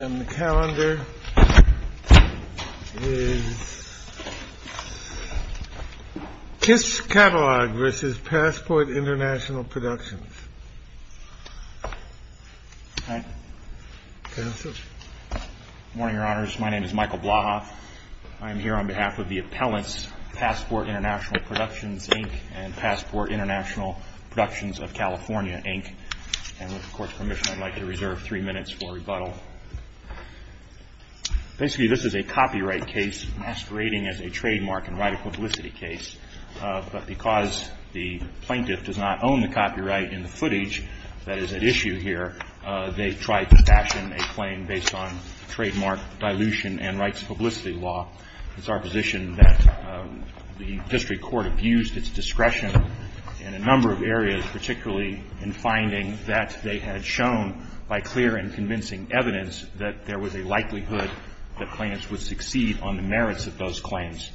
Productions, Inc. and Passport International Productions of California, Inc. And with the Court's permission, I'd like to reserve three minutes for rebuttal. Basically, this is a copyright case masquerading as a trademark and right of publicity case. But because the plaintiff does not own the copyright in the footage that is at issue here, they tried to fashion a claim based on trademark dilution and rights of publicity law. It's our position that the District Court abused its discretion in a number of areas, particularly in finding that they had shown by clear and convincing evidence that there was a likelihood that plaintiffs would succeed on the merits of those claims.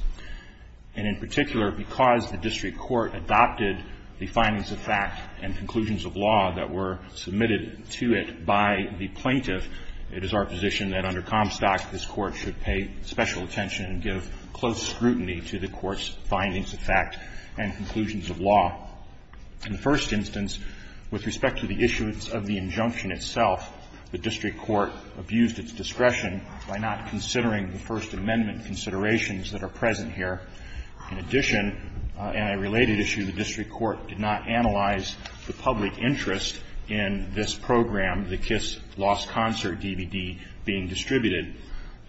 And in particular, because the District Court adopted the findings of fact and conclusions of law that were submitted to it by the plaintiff, it is our position that under Comstock this Court should pay special attention and give close scrutiny to the Court's findings of fact and conclusions of law. In the first instance, with respect to the issuance of the injunction itself, the District Court abused its discretion by not considering the First Amendment considerations that are present here. In addition, and a related issue, the District Court did not analyze the public interest in this program, the Kiss Lost Concert DVD, being distributed.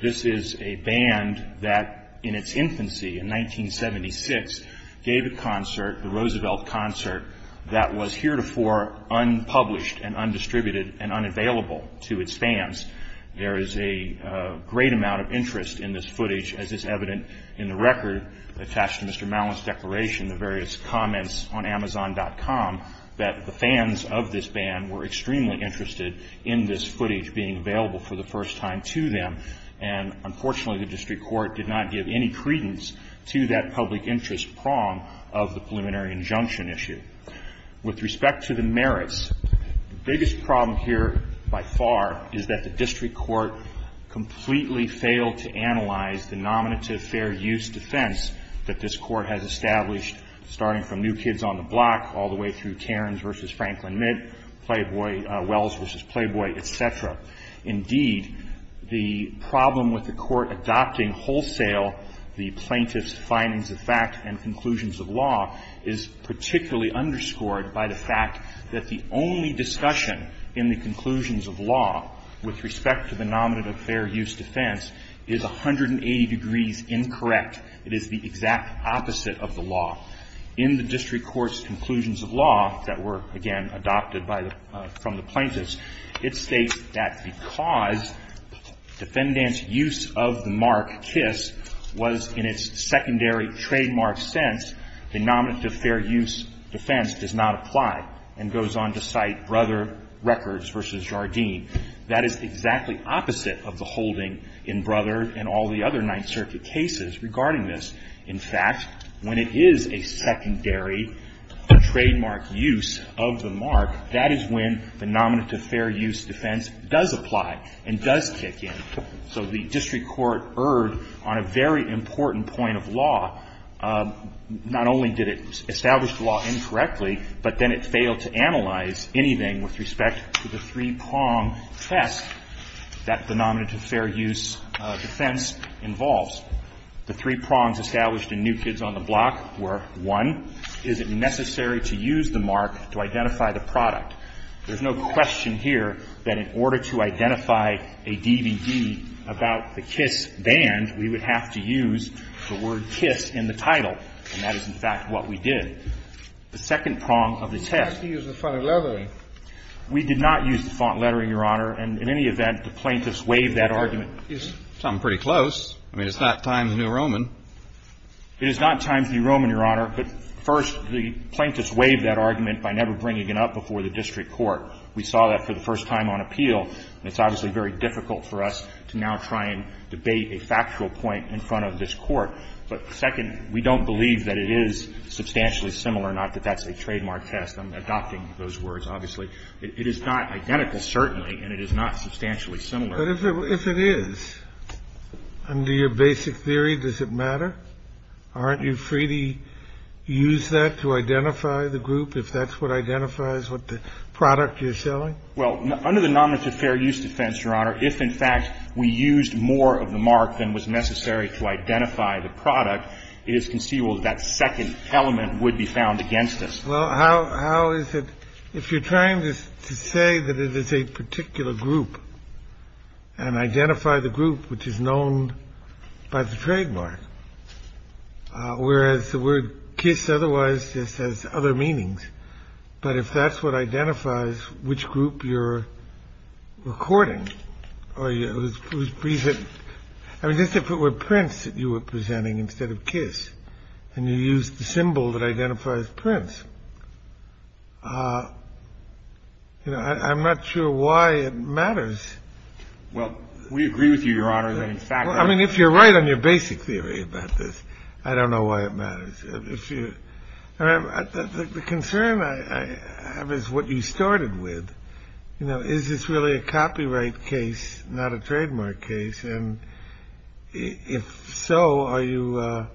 This is a band that in its infancy, in 1976, gave a concert, the Roosevelt Concert, that was heretofore unpublished and undistributed and unavailable to its fans. There is a great amount of interest in this footage, as is evident in the record attached to Mr. Mallon's declaration, the various comments on Amazon.com, that the fans of this band were extremely interested in this footage being available for the first time to them. And unfortunately, the District Court did not give any credence to that public interest prong of the preliminary injunction issue. With respect to the merits, the biggest problem here by far is that the District Court completely failed to analyze the nominative fair use defense that this Court has established, starting from New Kids on the Block all the way through Cairns v. Franklin Mitt, Wells v. Playboy, et cetera. Indeed, the problem with the Court adopting wholesale the plaintiff's findings of fact and conclusions of law is particularly underscored by the fact that the only discussion in the conclusions of law with respect to the nominative fair use defense is 180 degrees incorrect. It is the exact opposite of the law. In the District Court's conclusions of law that were, again, adopted from the plaintiffs, it states that because defendant's use of the mark kiss was in its secondary trademark sense, the nominative fair use defense does not apply and goes on to cite Brother Records v. Jardine. That is exactly opposite of the holding in Brother and all the other Ninth Circuit cases regarding this. In fact, when it is a secondary trademark use of the mark, that is when the nominative fair use defense does apply and does kick in. So the District Court erred on a very important point of law. Not only did it establish the law incorrectly, but then it failed to analyze anything with respect to the three-prong test that the nominative fair use defense involves. The three prongs established in New Kids on the Block were, one, is it necessary to use the mark to identify the product? There's no question here that in order to identify a DVD about the kiss band, we would have to use the word kiss in the title. And that is, in fact, what we did. The second prong of the test. You have to use the font lettering. We did not use the font lettering, Your Honor. And in any event, the plaintiffs waived that argument. It's something pretty close. I mean, it's not Times New Roman. It is not Times New Roman, Your Honor. But, first, the plaintiffs waived that argument by never bringing it up before the District Court. We saw that for the first time on appeal. It's obviously very difficult for us to now try and debate a factual point in front of this Court. But, second, we don't believe that it is substantially similar, not that that's a trademark test. I'm adopting those words, obviously. It is not identical, certainly, and it is not substantially similar. But if it is, under your basic theory, does it matter? Aren't you free to use that to identify the group, if that's what identifies what the product you're selling? Well, under the nonlimited fair use defense, Your Honor, if, in fact, we used more of the mark than was necessary to identify the product, it is conceivable that that second element would be found against us. Well, how is it, if you're trying to say that it is a particular group and identify the group which is known by the trademark, whereas the word kiss otherwise just has other meanings, but if that's what identifies which group you're recording or who's presenting, I mean, just if it were Prince that you were presenting instead of kiss and you used the symbol that identifies Prince, you know, I'm not sure why it matters. Well, we agree with you, Your Honor. I mean, if you're right on your basic theory about this, I don't know why it matters. The concern I have is what you started with. You know, is this really a copyright case, not a trademark case? And if so, are you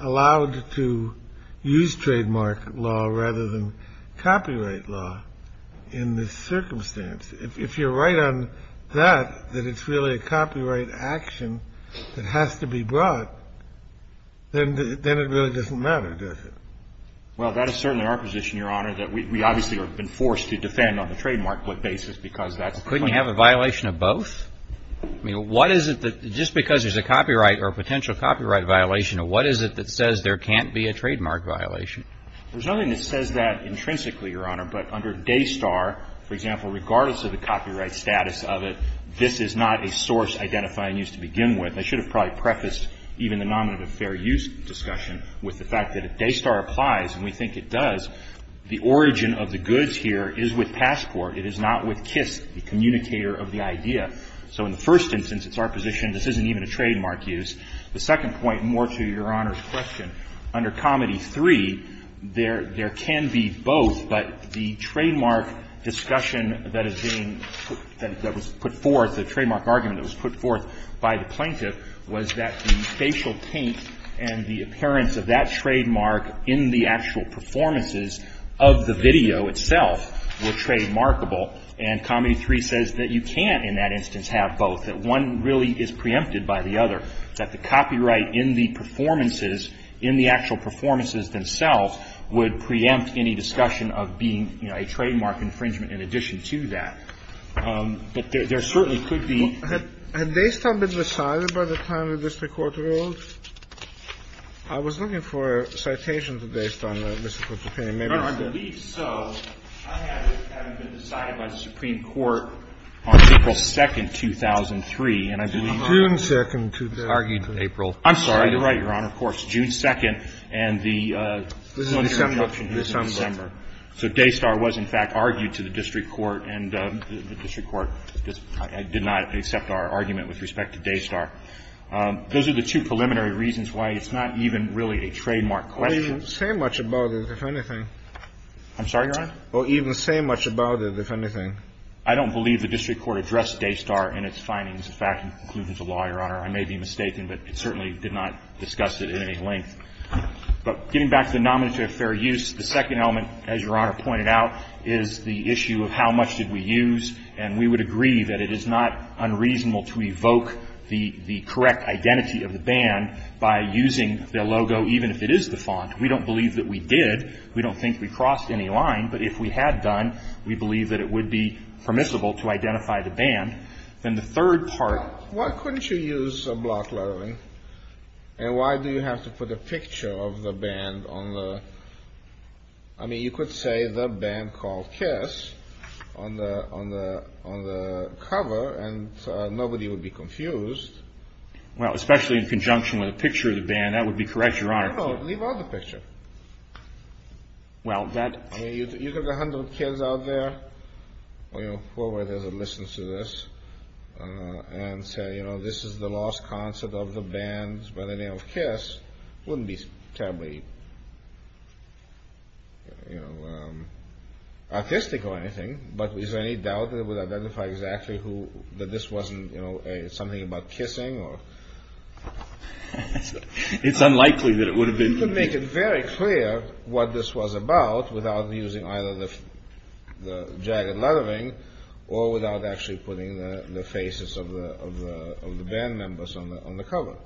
allowed to use trademark law rather than copyright law in this circumstance? If you're right on that, that it's really a copyright action that has to be brought, then it really doesn't matter, does it? Well, that is certainly our position, Your Honor, that we obviously have been forced to defend on the trademark basis because that's the point. Couldn't you have a violation of both? I mean, what is it that, just because there's a copyright or potential copyright violation, what is it that says there can't be a trademark violation? There's nothing that says that intrinsically, Your Honor, but under DASTAR, for example, regardless of the copyright status of it, this is not a source identifying use to begin with. I should have probably prefaced even the nominative fair use discussion with the fact that if DASTAR applies, and we think it does, the origin of the goods here is with Passport. It is not with KISS, the communicator of the idea. So in the first instance, it's our position this isn't even a trademark use. The second point, more to Your Honor's question, under Comedy 3, there can be both, but the trademark discussion that is being, that was put forth, the trademark argument that was put forth by the plaintiff was that the facial paint and the appearance of that And Comedy 3 says that you can't in that instance have both, that one really is preempted by the other, that the copyright in the performances, in the actual performances themselves would preempt any discussion of being, you know, a trademark infringement in addition to that. But there certainly could be. Had DASTAR been decided by the time the district court ruled? I was looking for a citation to DASTAR, Mr. Kutuzov. I believe so. I have it decided by the Supreme Court on April 2nd, 2003. And I believe June 2nd, 2003. It's argued in April. I'm sorry. You're right, Your Honor. Of course. June 2nd and the December. December. So DASTAR was in fact argued to the district court and the district court did not accept our argument with respect to DASTAR. Those are the two preliminary reasons why it's not even really a trademark question. Even say much about it, if anything. I'm sorry, Your Honor. Or even say much about it, if anything. I don't believe the district court addressed DASTAR in its findings. In fact, in conclusions of law, Your Honor, I may be mistaken, but it certainly did not discuss it at any length. But getting back to the nomenclature of fair use, the second element, as Your Honor pointed out, is the issue of how much did we use. And we would agree that it is not unreasonable to evoke the correct identity of the font. We don't believe that we did. We don't think we crossed any line. But if we had done, we believe that it would be permissible to identify the band. Then the third part. Why couldn't you use a block lettering? And why do you have to put a picture of the band on the – I mean, you could say the band called Kiss on the cover and nobody would be confused. Well, especially in conjunction with a picture of the band. That would be correct, Your Honor. I don't know. Leave out the picture. Well, that – I mean, you could have a hundred kids out there, you know, whoever it is that listens to this, and say, you know, this is the lost concert of the band by the name of Kiss. It wouldn't be terribly, you know, artistic or anything. But is there any doubt that it would identify exactly who – that this wasn't, you know, something about kissing or – It's unlikely that it would have been. You could make it very clear what this was about without using either the jagged lettering or without actually putting the faces of the band members on the cover.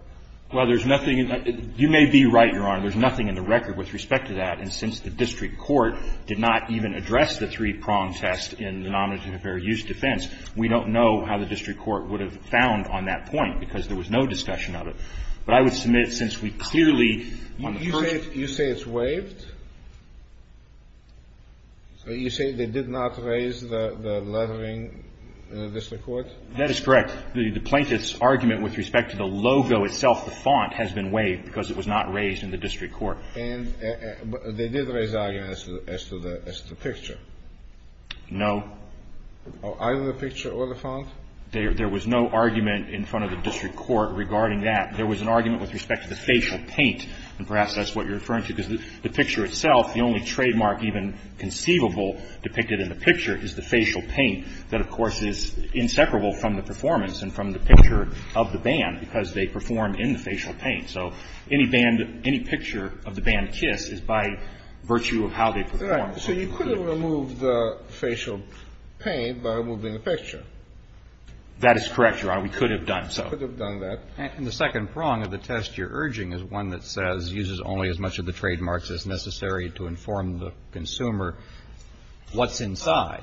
Well, there's nothing – you may be right, Your Honor. There's nothing in the record with respect to that. And since the district court did not even address the three-prong test in the denominator of fair use defense, we don't know how the district court would have found on that point because there was no discussion of it. But I would submit since we clearly – You say it's waived? You say they did not raise the lettering in the district court? That is correct. The plaintiff's argument with respect to the logo itself, the font, has been waived because it was not raised in the district court. And they did raise the argument as to the picture? No. Either the picture or the font? There was no argument in front of the district court regarding that. There was an argument with respect to the facial paint, and perhaps that's what you're referring to, because the picture itself, the only trademark even conceivable depicted in the picture is the facial paint that, of course, is inseparable from the performance and from the picture of the band because they performed in the facial paint. So any band – any picture of the band Kiss is by virtue of how they performed. So you could have removed the facial paint by removing the picture? That is correct, Your Honor. We could have done so. You could have done that. And the second prong of the test you're urging is one that says uses only as much of the trademarks as necessary to inform the consumer what's inside.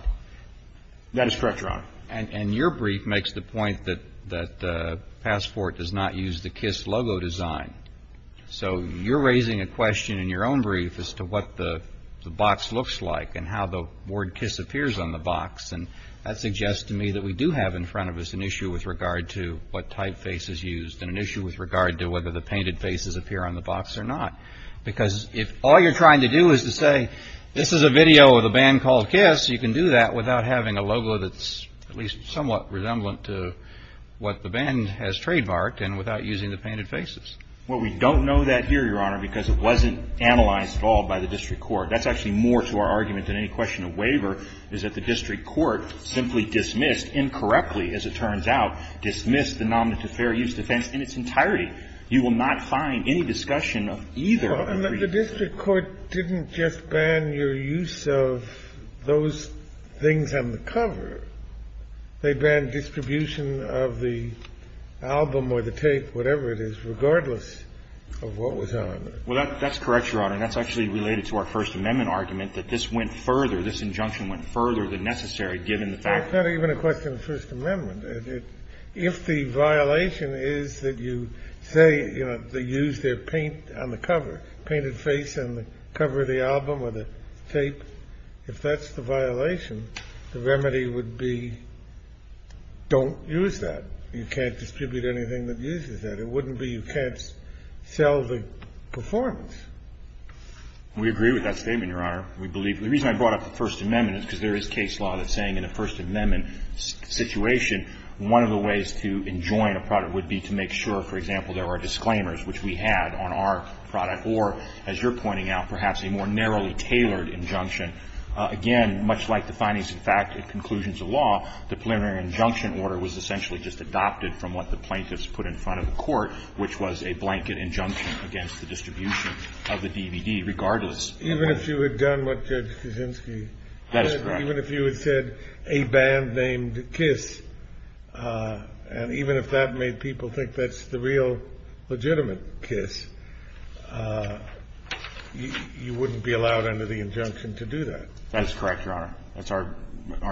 That is correct, Your Honor. And your brief makes the point that Passport does not use the Kiss logo design. So you're raising a question in your own brief as to what the box looks like and how the word Kiss appears on the box. And that suggests to me that we do have in front of us an issue with regard to what typeface is used and an issue with regard to whether the painted faces appear on the box or not. Because if all you're trying to do is to say this is a video of the band called Kiss, you can do that without having a logo that's at least somewhat resemblant to what the band has trademarked and without using the painted faces. Well, we don't know that here, Your Honor, because it wasn't analyzed at all by the district court. That's actually more to our argument than any question of waiver, is that the district court simply dismissed, incorrectly as it turns out, dismissed the Nominee to Fair Use defense in its entirety. You will not find any discussion of either of the briefs. And the district court didn't just ban your use of those things on the cover. They banned distribution of the album or the tape, whatever it is, regardless of what was on there. Well, that's correct, Your Honor. And that's actually related to our First Amendment argument, that this went further, this injunction went further than necessary, given the fact that we're going to question the First Amendment. If the violation is that you say, you know, they used their paint on the cover, painted face on the cover of the album or the tape, if that's the violation, the remedy would be don't use that. You can't distribute anything that uses that. It wouldn't be you can't sell the performance. We agree with that statement, Your Honor. We believe the reason I brought up the First Amendment is because there is case law that's saying in a First Amendment situation, one of the ways to enjoin a product would be to make sure, for example, there were disclaimers which we had on our product or, as you're pointing out, perhaps a more narrowly tailored injunction. Again, much like the findings in fact at conclusions of law, the preliminary injunction order was essentially just adopted from what the plaintiffs put in front of the court, which was a blanket injunction against the distribution of the DVD, regardless. Even if you had done what Judge Kuczynski said? That is correct. Even if you had said a band named Kiss, and even if that made people think that's the real legitimate Kiss, you wouldn't be allowed under the injunction to do that. That is correct, Your Honor. That's our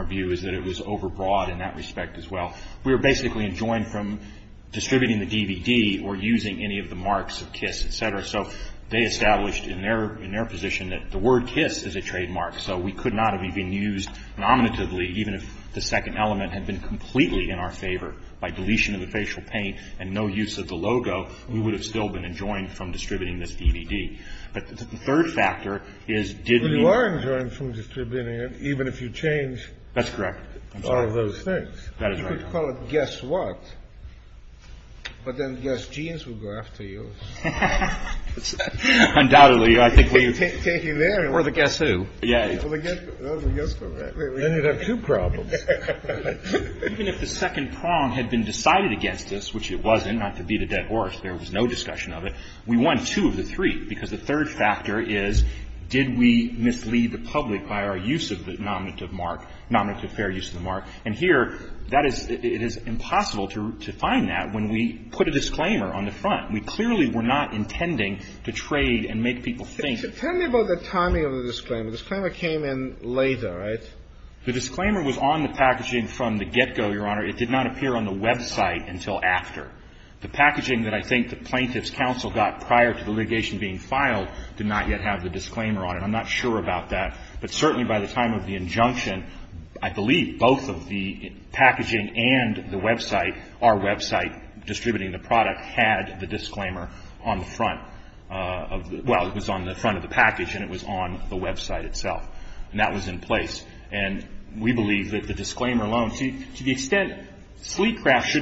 view, is that it was overbroad in that respect as well. We were basically enjoined from distributing the DVD or using any of the marks of Kiss, et cetera. So they established in their position that the word Kiss is a trademark. So we could not have even used nominatively, even if the second element had been completely in our favor. By deletion of the facial paint and no use of the logo, we would have still been enjoined from distributing this DVD. But the third factor is, did we need to? Even if you change all of those things. That's correct. That is right, Your Honor. You could call it guess what, but then guess genes will go after you. Undoubtedly. We're the guess who. Yes. Then you'd have two problems. Even if the second prong had been decided against us, which it wasn't, not to beat a dead horse, there was no discussion of it, we won two of the three. And the third factor is, did we mislead the public by our use of the nominative mark, nominative fair use of the mark? And here, that is – it is impossible to find that when we put a disclaimer on the front. We clearly were not intending to trade and make people think. Tell me about the timing of the disclaimer. The disclaimer came in later, right? The disclaimer was on the packaging from the get-go, Your Honor. It did not appear on the website until after. The packaging that I think the Plaintiff's Counsel got prior to the litigation being filed did not yet have the disclaimer on it. I'm not sure about that. But certainly by the time of the injunction, I believe both of the packaging and the website, our website distributing the product, had the disclaimer on the front of – well, it was on the front of the package and it was on the website itself. And that was in place. And we believe that the disclaimer alone – see, to the extent – because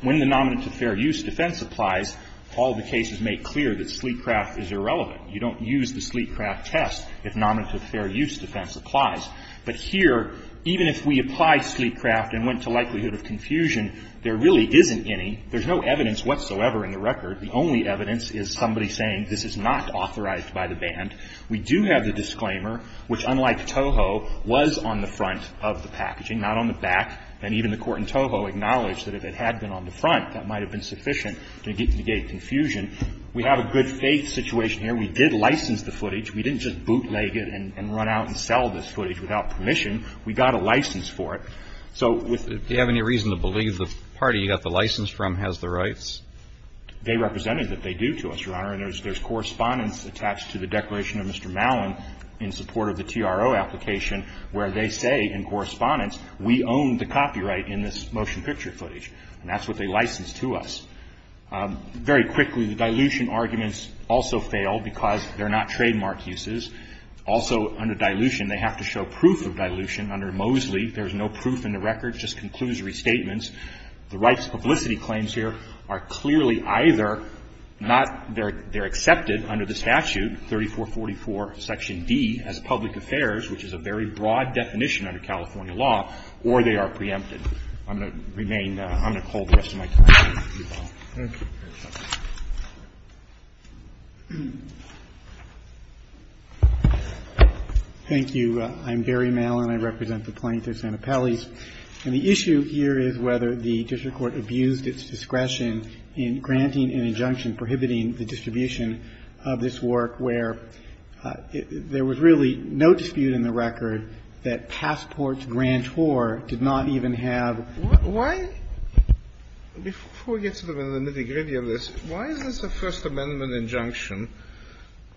when the nominative fair use defense applies, all the cases make clear that Sleetcraft is irrelevant. You don't use the Sleetcraft test if nominative fair use defense applies. But here, even if we apply Sleetcraft and went to likelihood of confusion, there really isn't any. There's no evidence whatsoever in the record. The only evidence is somebody saying this is not authorized by the band. We do have the disclaimer, which unlike Toho, was on the front of the packaging, not on the back. And even the court in Toho acknowledged that if it had been on the front, that might have been sufficient to negate confusion. We have a good faith situation here. We did license the footage. We didn't just bootleg it and run out and sell this footage without permission. We got a license for it. So with the – Do you have any reason to believe the party you got the license from has the rights? They represented that they do to us, Your Honor. And there's correspondence attached to the declaration of Mr. Malin in support of the We own the copyright in this motion picture footage, and that's what they licensed to us. Very quickly, the dilution arguments also fail because they're not trademark uses. Also, under dilution, they have to show proof of dilution. Under Mosley, there's no proof in the record. It just concludes restatements. The rights publicity claims here are clearly either not – they're accepted under the statute, 3444 section D, as public affairs, which is a very broad definition under California law, or they are preempted. I'm going to remain – I'm going to hold the rest of my time. Thank you, Your Honor. Thank you. I'm Gary Malin. I represent the plaintiff, Santa Pelley. And the issue here is whether the district court abused its discretion in granting an injunction prohibiting the distribution of this work where there was really no dispute in the record that passports grantor did not even have. Why – before we get to the nitty-gritty of this, why is this a First Amendment injunction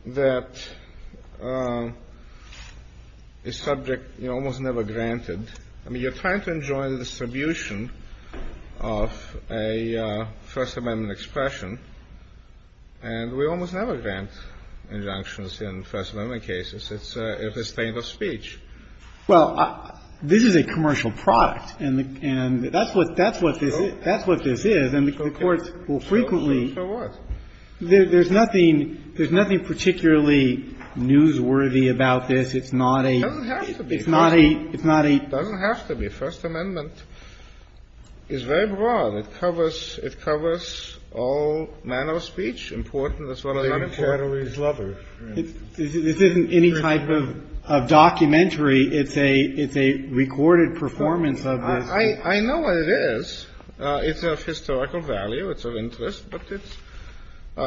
that is subject – you know, almost never granted? I mean, you're trying to enjoin the distribution of a First Amendment expression, and we almost never grant injunctions in First Amendment cases. It's a stain of speech. Well, this is a commercial product, and that's what this is. That's what this is. And the courts will frequently – So what? There's nothing particularly newsworthy about this. It's not a – It doesn't have to be. It's not a – it's not a – It doesn't have to be. First Amendment is very broad. It covers – it covers all manner of speech, important as well as unimportant. The inquiry is lover. This isn't any type of documentary. It's a – it's a recorded performance of this. I know what it is. It's of historical value. It's of interest. But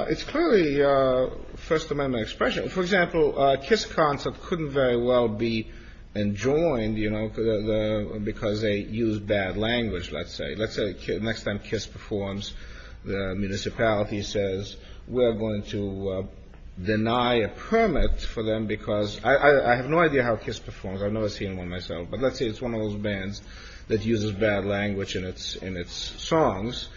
it's clearly a First Amendment expression. For example, Kiss concept couldn't very well be enjoined, you know, because they use bad language, let's say. Let's say next time Kiss performs, the municipality says we're going to deny a permit for them because – I have no idea how Kiss performs. I've never seen one myself. But let's say it's one of those bands that uses bad language in its – in its songs.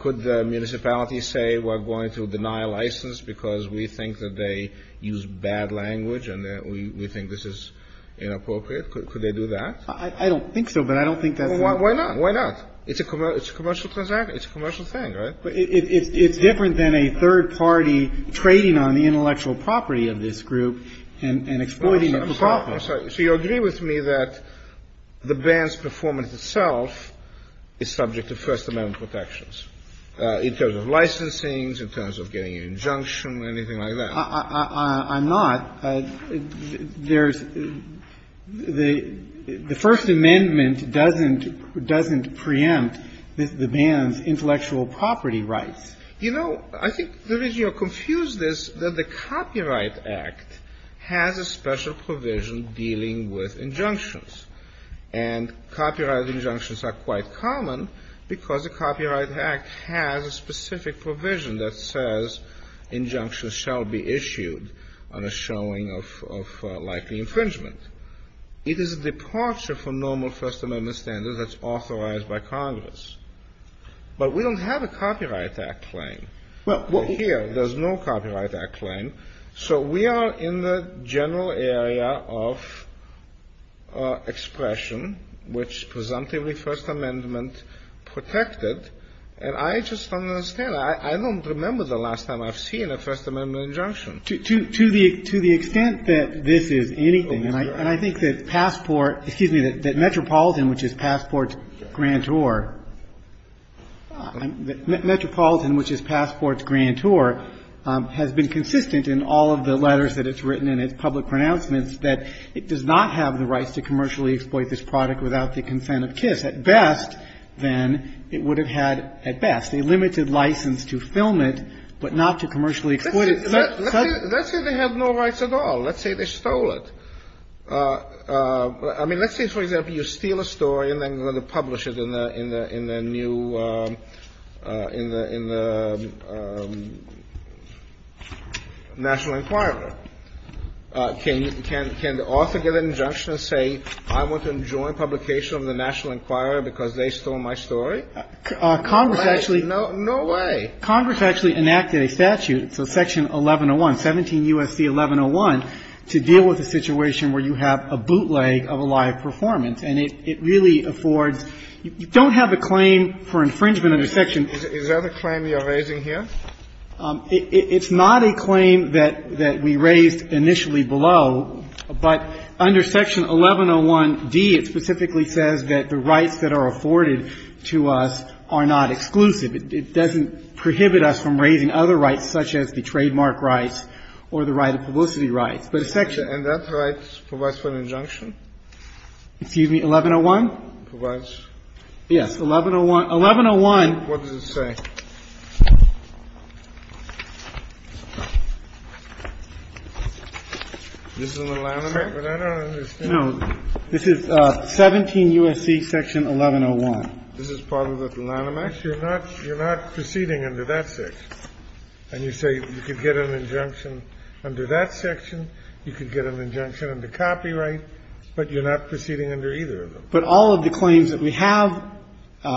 Could the municipality say we're going to deny a license because we think that they use bad language and that we think this is inappropriate? Could they do that? I don't think so, but I don't think that's – Well, why not? It's a commercial – it's a commercial transaction. It's a commercial thing, right? But it's different than a third party trading on the intellectual property of this group and exploiting it for profit. I'm sorry. So you agree with me that the band's performance itself is subject to First Amendment protections in terms of licensings, in terms of getting an injunction, anything like that? I'm not. There's – the First Amendment doesn't – doesn't preempt the band's intellectual property rights. You know, I think you're confused as to the Copyright Act has a special provision dealing with injunctions. And copyright injunctions are quite common because the Copyright Act has a specific provision that says injunctions shall be issued on a showing of likely infringement. It is a departure from normal First Amendment standards that's authorized by Congress. But we don't have a Copyright Act claim. Well, here, there's no Copyright Act claim. So we are in the general area of expression, which presumptively First Amendment protected. And I just don't understand. I don't remember the last time I've seen a First Amendment injunction. To the extent that this is anything, and I think that Passport – excuse me, that Metropolitan, which is Passport's grantor – Metropolitan, which is Passport's grantor, has been consistent in all of the letters that it's written and its public pronouncements that it does not have the rights to commercially exploit this product without the consent of KISS. At best, then, it would have had, at best, a limited license to film it but not to commercially exploit it. Let's say they have no rights at all. Let's say they stole it. I mean, let's say, for example, you steal a story and then you're going to publish it in the new – in the National Enquirer. Can the author get an injunction and say, I want to enjoin publication of the National Enquirer because they stole my story? No way. No way. No way. Congress actually enacted a statute, so Section 1101, 17 U.S.C. 1101, to deal with a situation where you have a bootleg of a live performance. And it really affords – you don't have a claim for infringement under Section Is that a claim you're raising here? It's not a claim that we raised initially below. But under Section 1101d, it specifically says that the rights that are afforded to us are not exclusive. It doesn't prohibit us from raising other rights, such as the trademark rights or the right of publicity rights. But Section – And that right provides for an injunction? Excuse me, 1101? Provides. Yes. 1101 – 1101 – What does it say? This is in the Lanham Act, but I don't understand. No. This is 17 U.S.C. Section 1101. This is part of the Lanham Act. You're not – you're not proceeding under that section. And you say you could get an injunction under that section, you could get an injunction under copyright, but you're not proceeding under either of them. But all of the claims that we have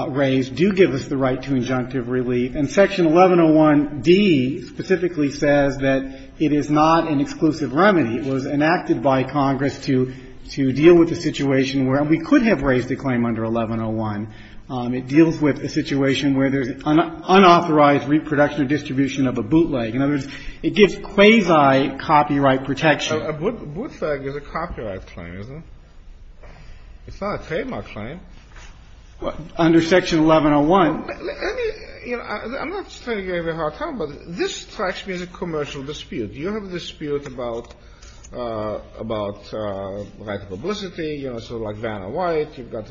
raised do give us the right to injunctive relief, and Section 1101d specifically says that it is not an exclusive remedy. It was enacted by Congress to – to deal with a situation where we could have raised a claim under 1101. It deals with a situation where there's unauthorized reproduction or distribution of a bootleg. In other words, it gives quasi-copyright protection. A bootleg is a copyright claim, isn't it? It's not a trademark claim. What? Under Section 1101. Let me – you know, I'm not trying to give you a hard time, but this strikes me as a commercial dispute. You have a dispute about – about right to publicity, you know, sort of like Vanna White. You've got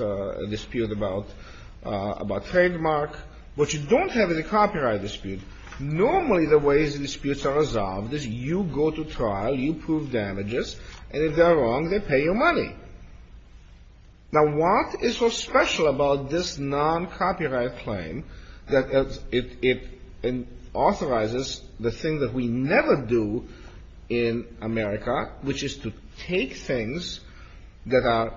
a dispute about – about trademark. But you don't have any copyright dispute. Normally, the way the disputes are resolved is you go to trial, you prove damages, and if they're wrong, they pay you money. Now, what is so special about this noncopyright claim that it – it authorizes the thing that we never do in America, which is to take things that are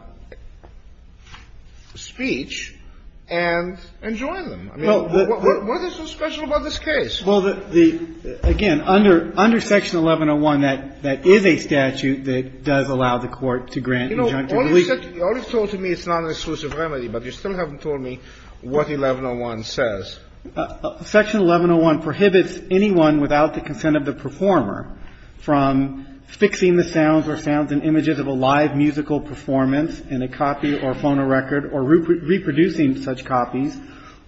speech and enjoin them? I mean, what is so special about this case? Well, the – the – again, under – under Section 1101, that – that is a statute that does allow the Court to grant injunctive release. You know, all you've said – all you've told me is it's not an exclusive remedy, but you still haven't told me what 1101 says. Section 1101 prohibits anyone without the consent of the performer from fixing the sounds or sounds and images of a live musical performance in a copy or phono record or reproducing such copies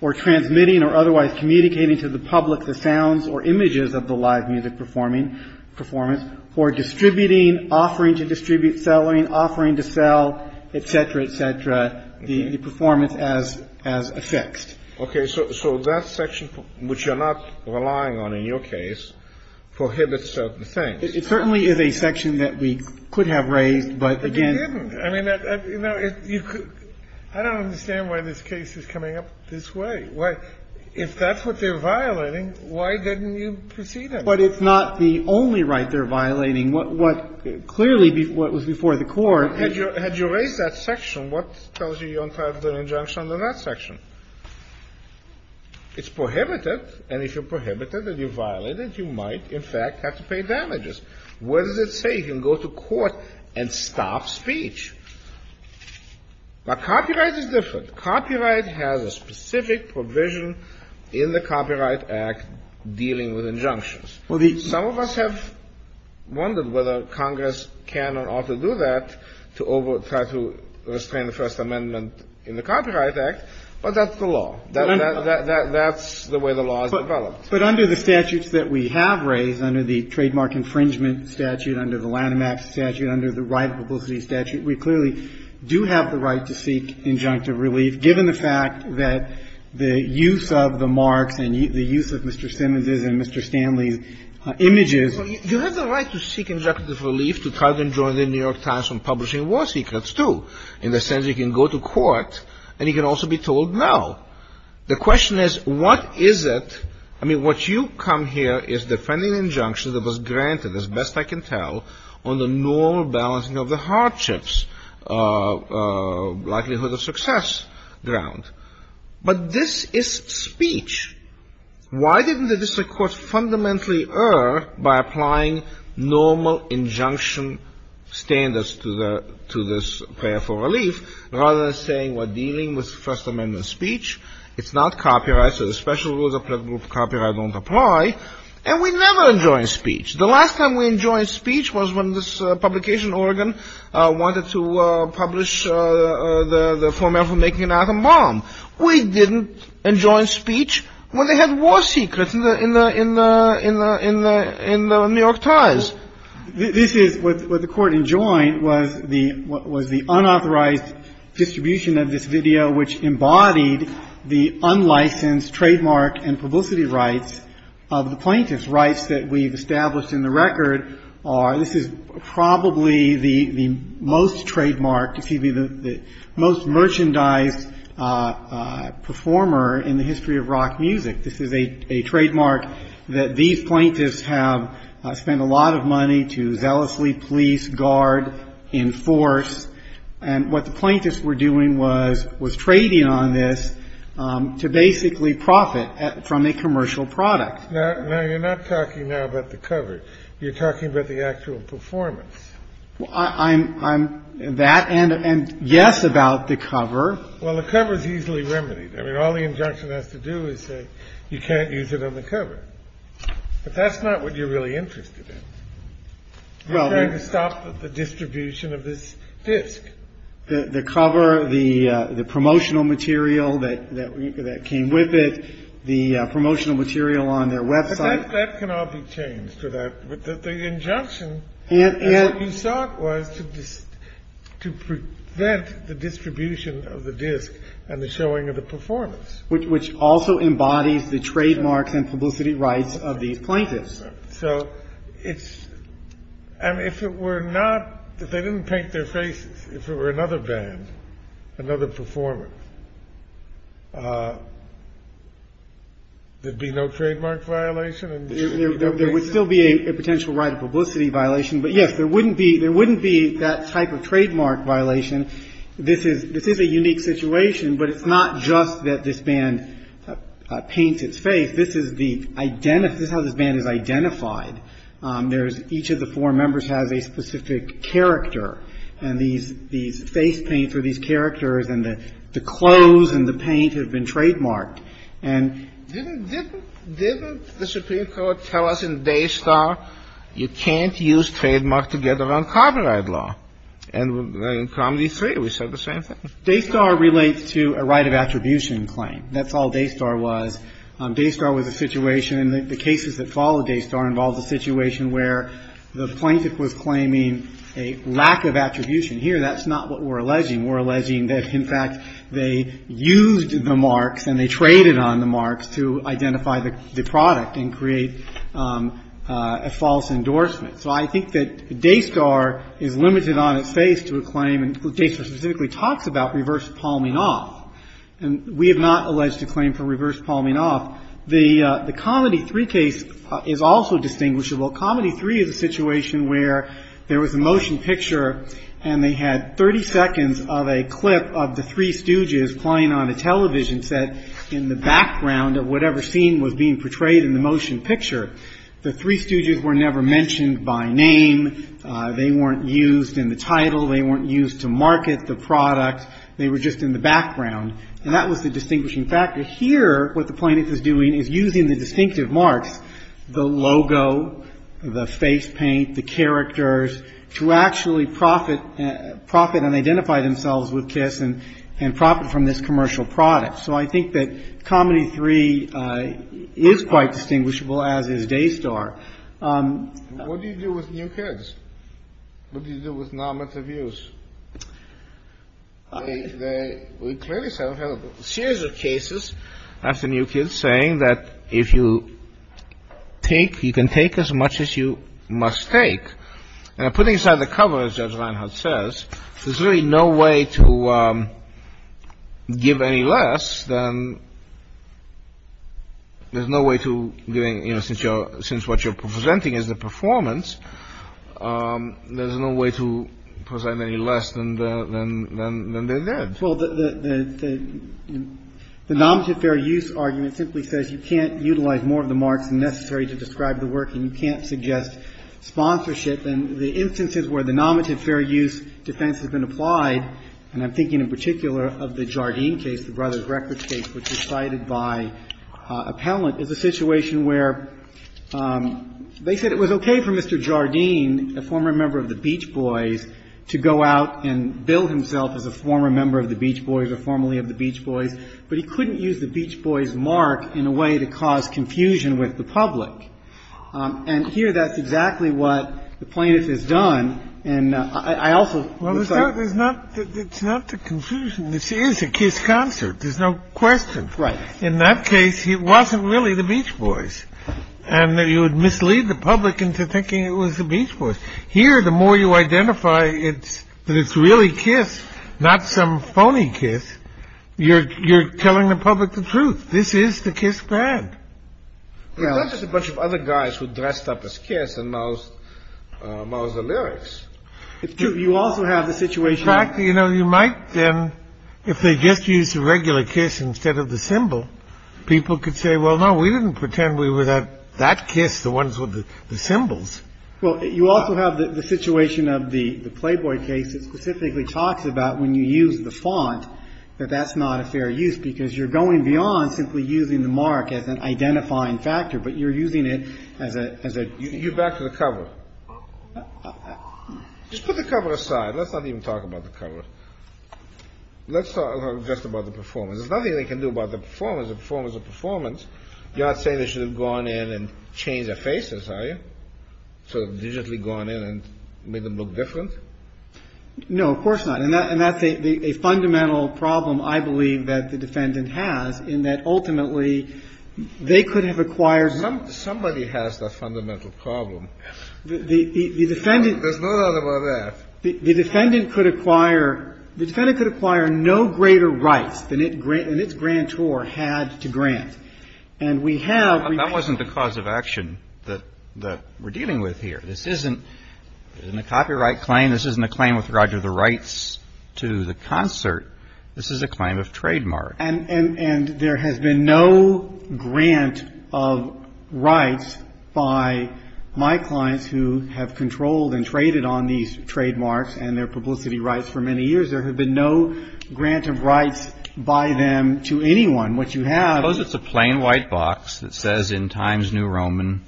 or transmitting or otherwise communicating to the public the sounds or images of the live music performing – performance for distributing, offering to distribute, selling, offering to sell, et cetera, et cetera, the – the performance as – as affixed. Okay. So – so that section, which you're not relying on in your case, prohibits certain things. It certainly is a section that we could have raised, but again – But you didn't. I mean, you know, it – you could – I don't understand why this case is coming up this way. Why – if that's what they're violating, why didn't you proceed it? But it's not the only right they're violating. What – what – clearly, what was before the Court – Had you – had you raised that section, what tells you you don't have the injunction under that section? It's prohibited, and if you prohibit it and you violate it, you might, in fact, have to pay damages. What does it say? You can go to court and stop speech. But copyright is different. Copyright has a specific provision in the Copyright Act dealing with injunctions. Some of us have wondered whether Congress can or ought to do that to over – try to restrain the First Amendment in the Copyright Act, but that's the law. That's the way the law is developed. But under the statutes that we have raised, under the trademark infringement statute, under the Lanham Act statute, under the right of publicity statute, we clearly do have the right to seek injunctive relief, given the fact that the use of the marks and the use of Mr. Simmons's and Mr. Stanley's images. You have the right to seek injunctive relief to try to enjoin the New York Times from publishing war secrets, too. In the sense you can go to court and you can also be told no. The question is, what is it – I mean, what you come here is defending injunctions that was granted, as best I can tell, on the normal balancing of the hardships, likelihood of success ground. But this is speech. Why didn't the district court fundamentally err by applying normal injunction standards to the – to this prayer for relief, rather than saying we're dealing with First Amendment speech, it's not copyright, so the special rules applicable to copyright don't apply, and we never enjoined speech. The last time we enjoined speech was when this publication, Oregon, wanted to publish the formal for making an atom bomb. We didn't enjoin speech when they had war secrets in the – in the – in the New York Times. This is – what the Court enjoined was the unauthorized distribution of this video, which embodied the unlicensed trademark and publicity rights of the plaintiffs. Rights that we've established in the record are – this is probably the most trademarked, excuse me, the most merchandised performer in the history of rock music. This is a trademark that these plaintiffs have spent a lot of money to zealously police, guard, enforce, and what the plaintiffs were doing was – was trading on this to basically profit from a commercial product. Now, you're not talking now about the cover. You're talking about the actual performance. I'm – that and yes about the cover. Well, the cover is easily remedied. I mean, all the injunction has to do is say you can't use it on the cover. But that's not what you're really interested in. I'm trying to stop the distribution of this disc. The cover, the promotional material that came with it, the promotional material on their website. But that can all be changed. The injunction, as you saw it, was to prevent the distribution of the disc and the showing of the performance. Which also embodies the trademarks and publicity rights of the plaintiffs. So it's – and if it were not – if they didn't paint their faces, if it were another band, another performer, there'd be no trademark violation? There would still be a potential right of publicity violation. But yes, there wouldn't be – there wouldn't be that type of trademark violation. This is – this is a unique situation, but it's not just that this band paints its face. This is the – this is how this band is identified. There's – each of the four members has a specific character. And these – these face paints are these characters, and the clothes and the paint have been trademarked. And didn't – didn't the Supreme Court tell us in Daystar you can't use trademark to get around copyright law? And in Cromley 3, we said the same thing. Daystar relates to a right of attribution claim. That's all Daystar was. Daystar was a situation – the cases that followed Daystar involved a situation where the plaintiff was claiming a lack of attribution. Here, that's not what we're alleging. We're alleging that, in fact, they used the marks and they traded on the marks to identify the product and create a false endorsement. So I think that Daystar is limited on its face to a claim – and Daystar specifically talks about reverse palming off. And we have not alleged a claim for reverse palming off. The – the Comedy 3 case is also distinguishable. Comedy 3 is a situation where there was a motion picture, and they had 30 seconds of a clip of the three Stooges playing on a television set in the background of whatever scene was being portrayed in the motion picture. The three Stooges were never mentioned by name. They weren't used in the title. They weren't used to market the product. They were just in the background. And that was the distinguishing factor. Here, what the plaintiff is doing is using the distinctive marks – the logo, the face paint, the characters – to actually profit – profit and identify themselves with Kiss and – and profit from this commercial product. So I think that Comedy 3 is quite distinguishable, as is Daystar. What do you do with new kids? What do you do with non-meta views? They – we clearly have a series of cases after new kids saying that if you take – you can take as much as you must take. And putting aside the cover, as Judge Reinhart says, there's really no way to give any less than – there's no way to giving – you know, since you're – since what you're presenting is the performance, there's no way to present any less than the – than they did. Well, the – the nominative fair use argument simply says you can't utilize more of the marks than necessary to describe the work and you can't suggest sponsorship. And the instances where the nominative fair use defense has been applied, and I'm thinking in particular of the Jardine case, the Brothers Records case, which is cited by Appellant, is a situation where they said it was okay for Mr. Jardine, a former member of the Beach Boys, to go out and bill himself as a former member of the Beach Boys or formerly of the Beach Boys, but he couldn't use the Beach Boys mark in a way to cause confusion with the public. And here that's exactly what the plaintiff has done. And I also would say – Well, it's not – it's not the confusion. This is a kids' concert. There's no question. Right. In that case, it wasn't really the Beach Boys. And you would mislead the public into thinking it was the Beach Boys. Here, the more you identify it's – that it's really Kiss, not some phony Kiss, you're – you're telling the public the truth. This is the Kiss band. It's not just a bunch of other guys who dressed up as Kiss and moused – moused the lyrics. It's true. You also have the situation – In fact, you know, you might then – if they just used the regular Kiss instead of the symbol, people could say, well, no, we didn't pretend we were that Kiss, the ones with the symbols. Well, you also have the situation of the Playboy case that specifically talks about when you use the font that that's not a fair use because you're going beyond simply using the mark as an identifying factor, but you're using it as a – You get back to the cover. Just put the cover aside. Let's not even talk about the cover. Let's talk just about the performance. There's nothing they can do about the performance. A performance is a performance. You're not saying they should have gone in and changed their faces, are you? Sort of digitally gone in and made them look different? No, of course not. And that's a fundamental problem I believe that the defendant has in that ultimately they could have acquired – Somebody has that fundamental problem. There's no doubt about that. The defendant could acquire no greater rights than its grantor had to grant. And we have – That wasn't the cause of action that we're dealing with here. This isn't a copyright claim. This isn't a claim with regard to the rights to the concert. This is a claim of trademark. And there has been no grant of rights by my clients who have controlled and traded on these trademarks and their publicity rights for many years. There has been no grant of rights by them to anyone. What you have – Suppose it's a plain white box that says in Times New Roman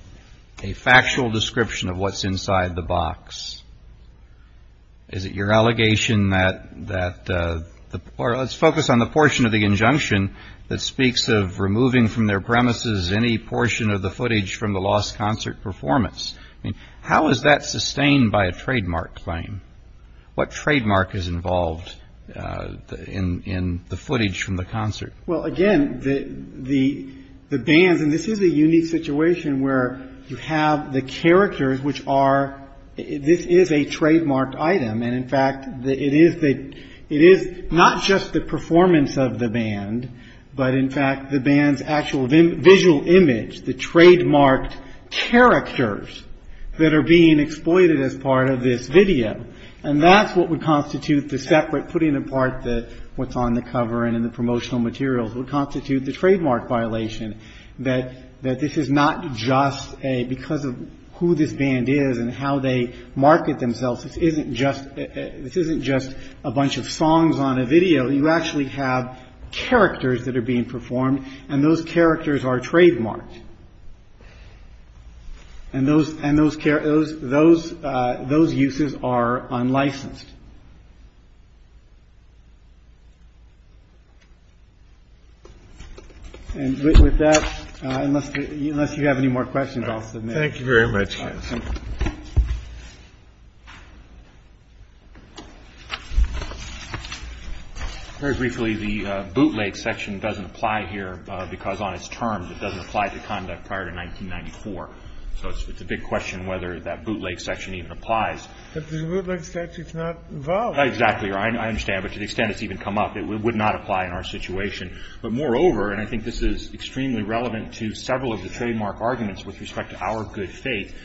a factual description of what's inside the box. Is it your allegation that – Or let's focus on the portion of the injunction that speaks of removing from their premises any portion of the footage from the lost concert performance. How is that sustained by a trademark claim? What trademark is involved in the footage from the concert? Well, again, the bands – And this is a unique situation where you have the characters which are – This is a trademarked item. And, in fact, it is not just the performance of the band, but, in fact, the band's actual visual image, the trademarked characters that are being exploited as part of this video. And that's what would constitute the separate – Putting apart what's on the cover and in the promotional materials would constitute the trademark violation that this is not just because of who this band is and how they market themselves. This isn't just a bunch of songs on a video. You actually have characters that are being performed, and those characters are trademarked. And those uses are unlicensed. And with that, unless you have any more questions, I'll submit. Thank you very much, counsel. Very briefly, the bootleg section doesn't apply here because on its terms it doesn't apply to conduct prior to 1994. So it's a big question whether that bootleg section even applies. But the bootleg statute's not involved. Exactly. I understand. But to the extent it's even come up, it would not apply in our situation. But, moreover, and I think this is extremely relevant to several of the trademark arguments with respect to our good faith,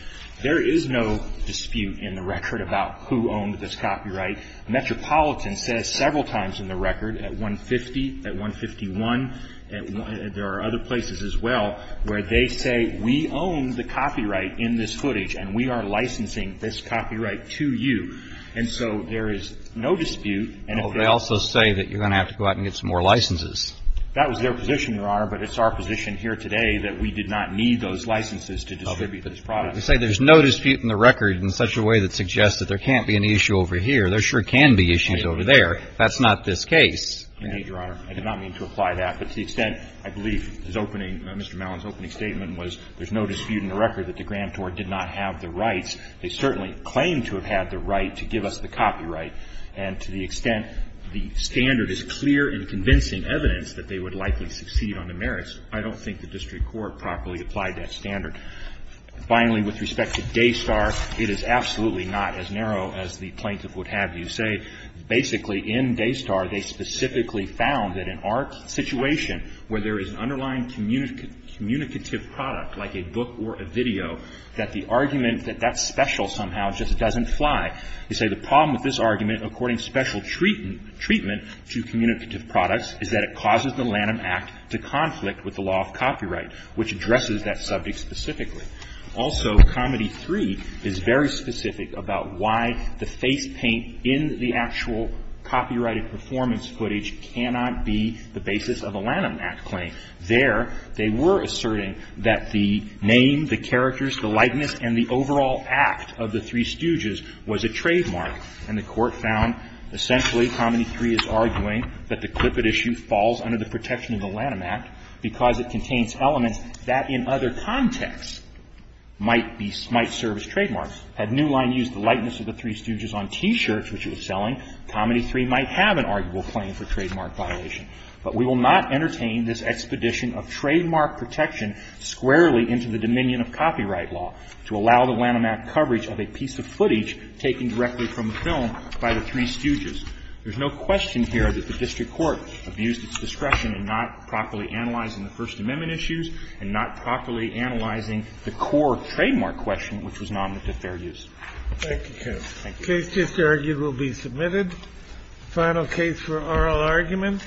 there is no dispute in the record about who owned this copyright. Metropolitan says several times in the record at 150, at 151, and there are other places as well, where they say we own the copyright in this footage and we are licensing this copyright to you. And so there is no dispute. They also say that you're going to have to go out and get some more licenses. That was their position, Your Honor, but it's our position here today that we did not need those licenses to distribute this product. We say there's no dispute in the record in such a way that suggests that there can't be an issue over here. There sure can be issues over there. That's not this case. Indeed, Your Honor. I did not mean to apply that. But to the extent, I believe, his opening, Mr. Mallon's opening statement was there's no dispute in the record that the grantor did not have the rights. They certainly claim to have had the right to give us the copyright. And to the extent the standard is clear and convincing evidence that they would likely succeed on the merits, I don't think the district court properly applied that standard. Finally, with respect to Daystar, it is absolutely not as narrow as the plaintiff would have you say. Basically, in Daystar, they specifically found that in our situation, where there is an underlying communicative product, like a book or a video, that the argument that that's special somehow just doesn't fly. They say the problem with this argument, according to special treatment to communicative products, is that it causes the Lanham Act to conflict with the law of copyright, which addresses that subject specifically. Also, Comedy 3 is very specific about why the face paint in the actual copyrighted performance footage cannot be the basis of a Lanham Act claim. There, they were asserting that the name, the characters, the likeness, and the overall act of the Three Stooges was a trademark. And the court found, essentially, Comedy 3 is arguing that the Clippett issue falls under the protection of the Lanham Act because it contains elements that, in other contexts, might serve as trademarks. Had New Line used the likeness of the Three Stooges on T-shirts, which it was selling, Comedy 3 might have an arguable claim for trademark violation. But we will not entertain this expedition of trademark protection squarely into the dominion of copyright law to allow the Lanham Act coverage of a piece of footage taken directly from the film by the Three Stooges. There's no question here that the district court abused its discretion in not properly analyzing the First Amendment issues and not properly analyzing the core trademark question, which was an omnipotent fair use. Thank you, counsel. Thank you. The case just argued will be submitted. The final case for oral argument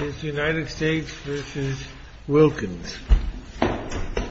is United States v. Wilkins. Thank you.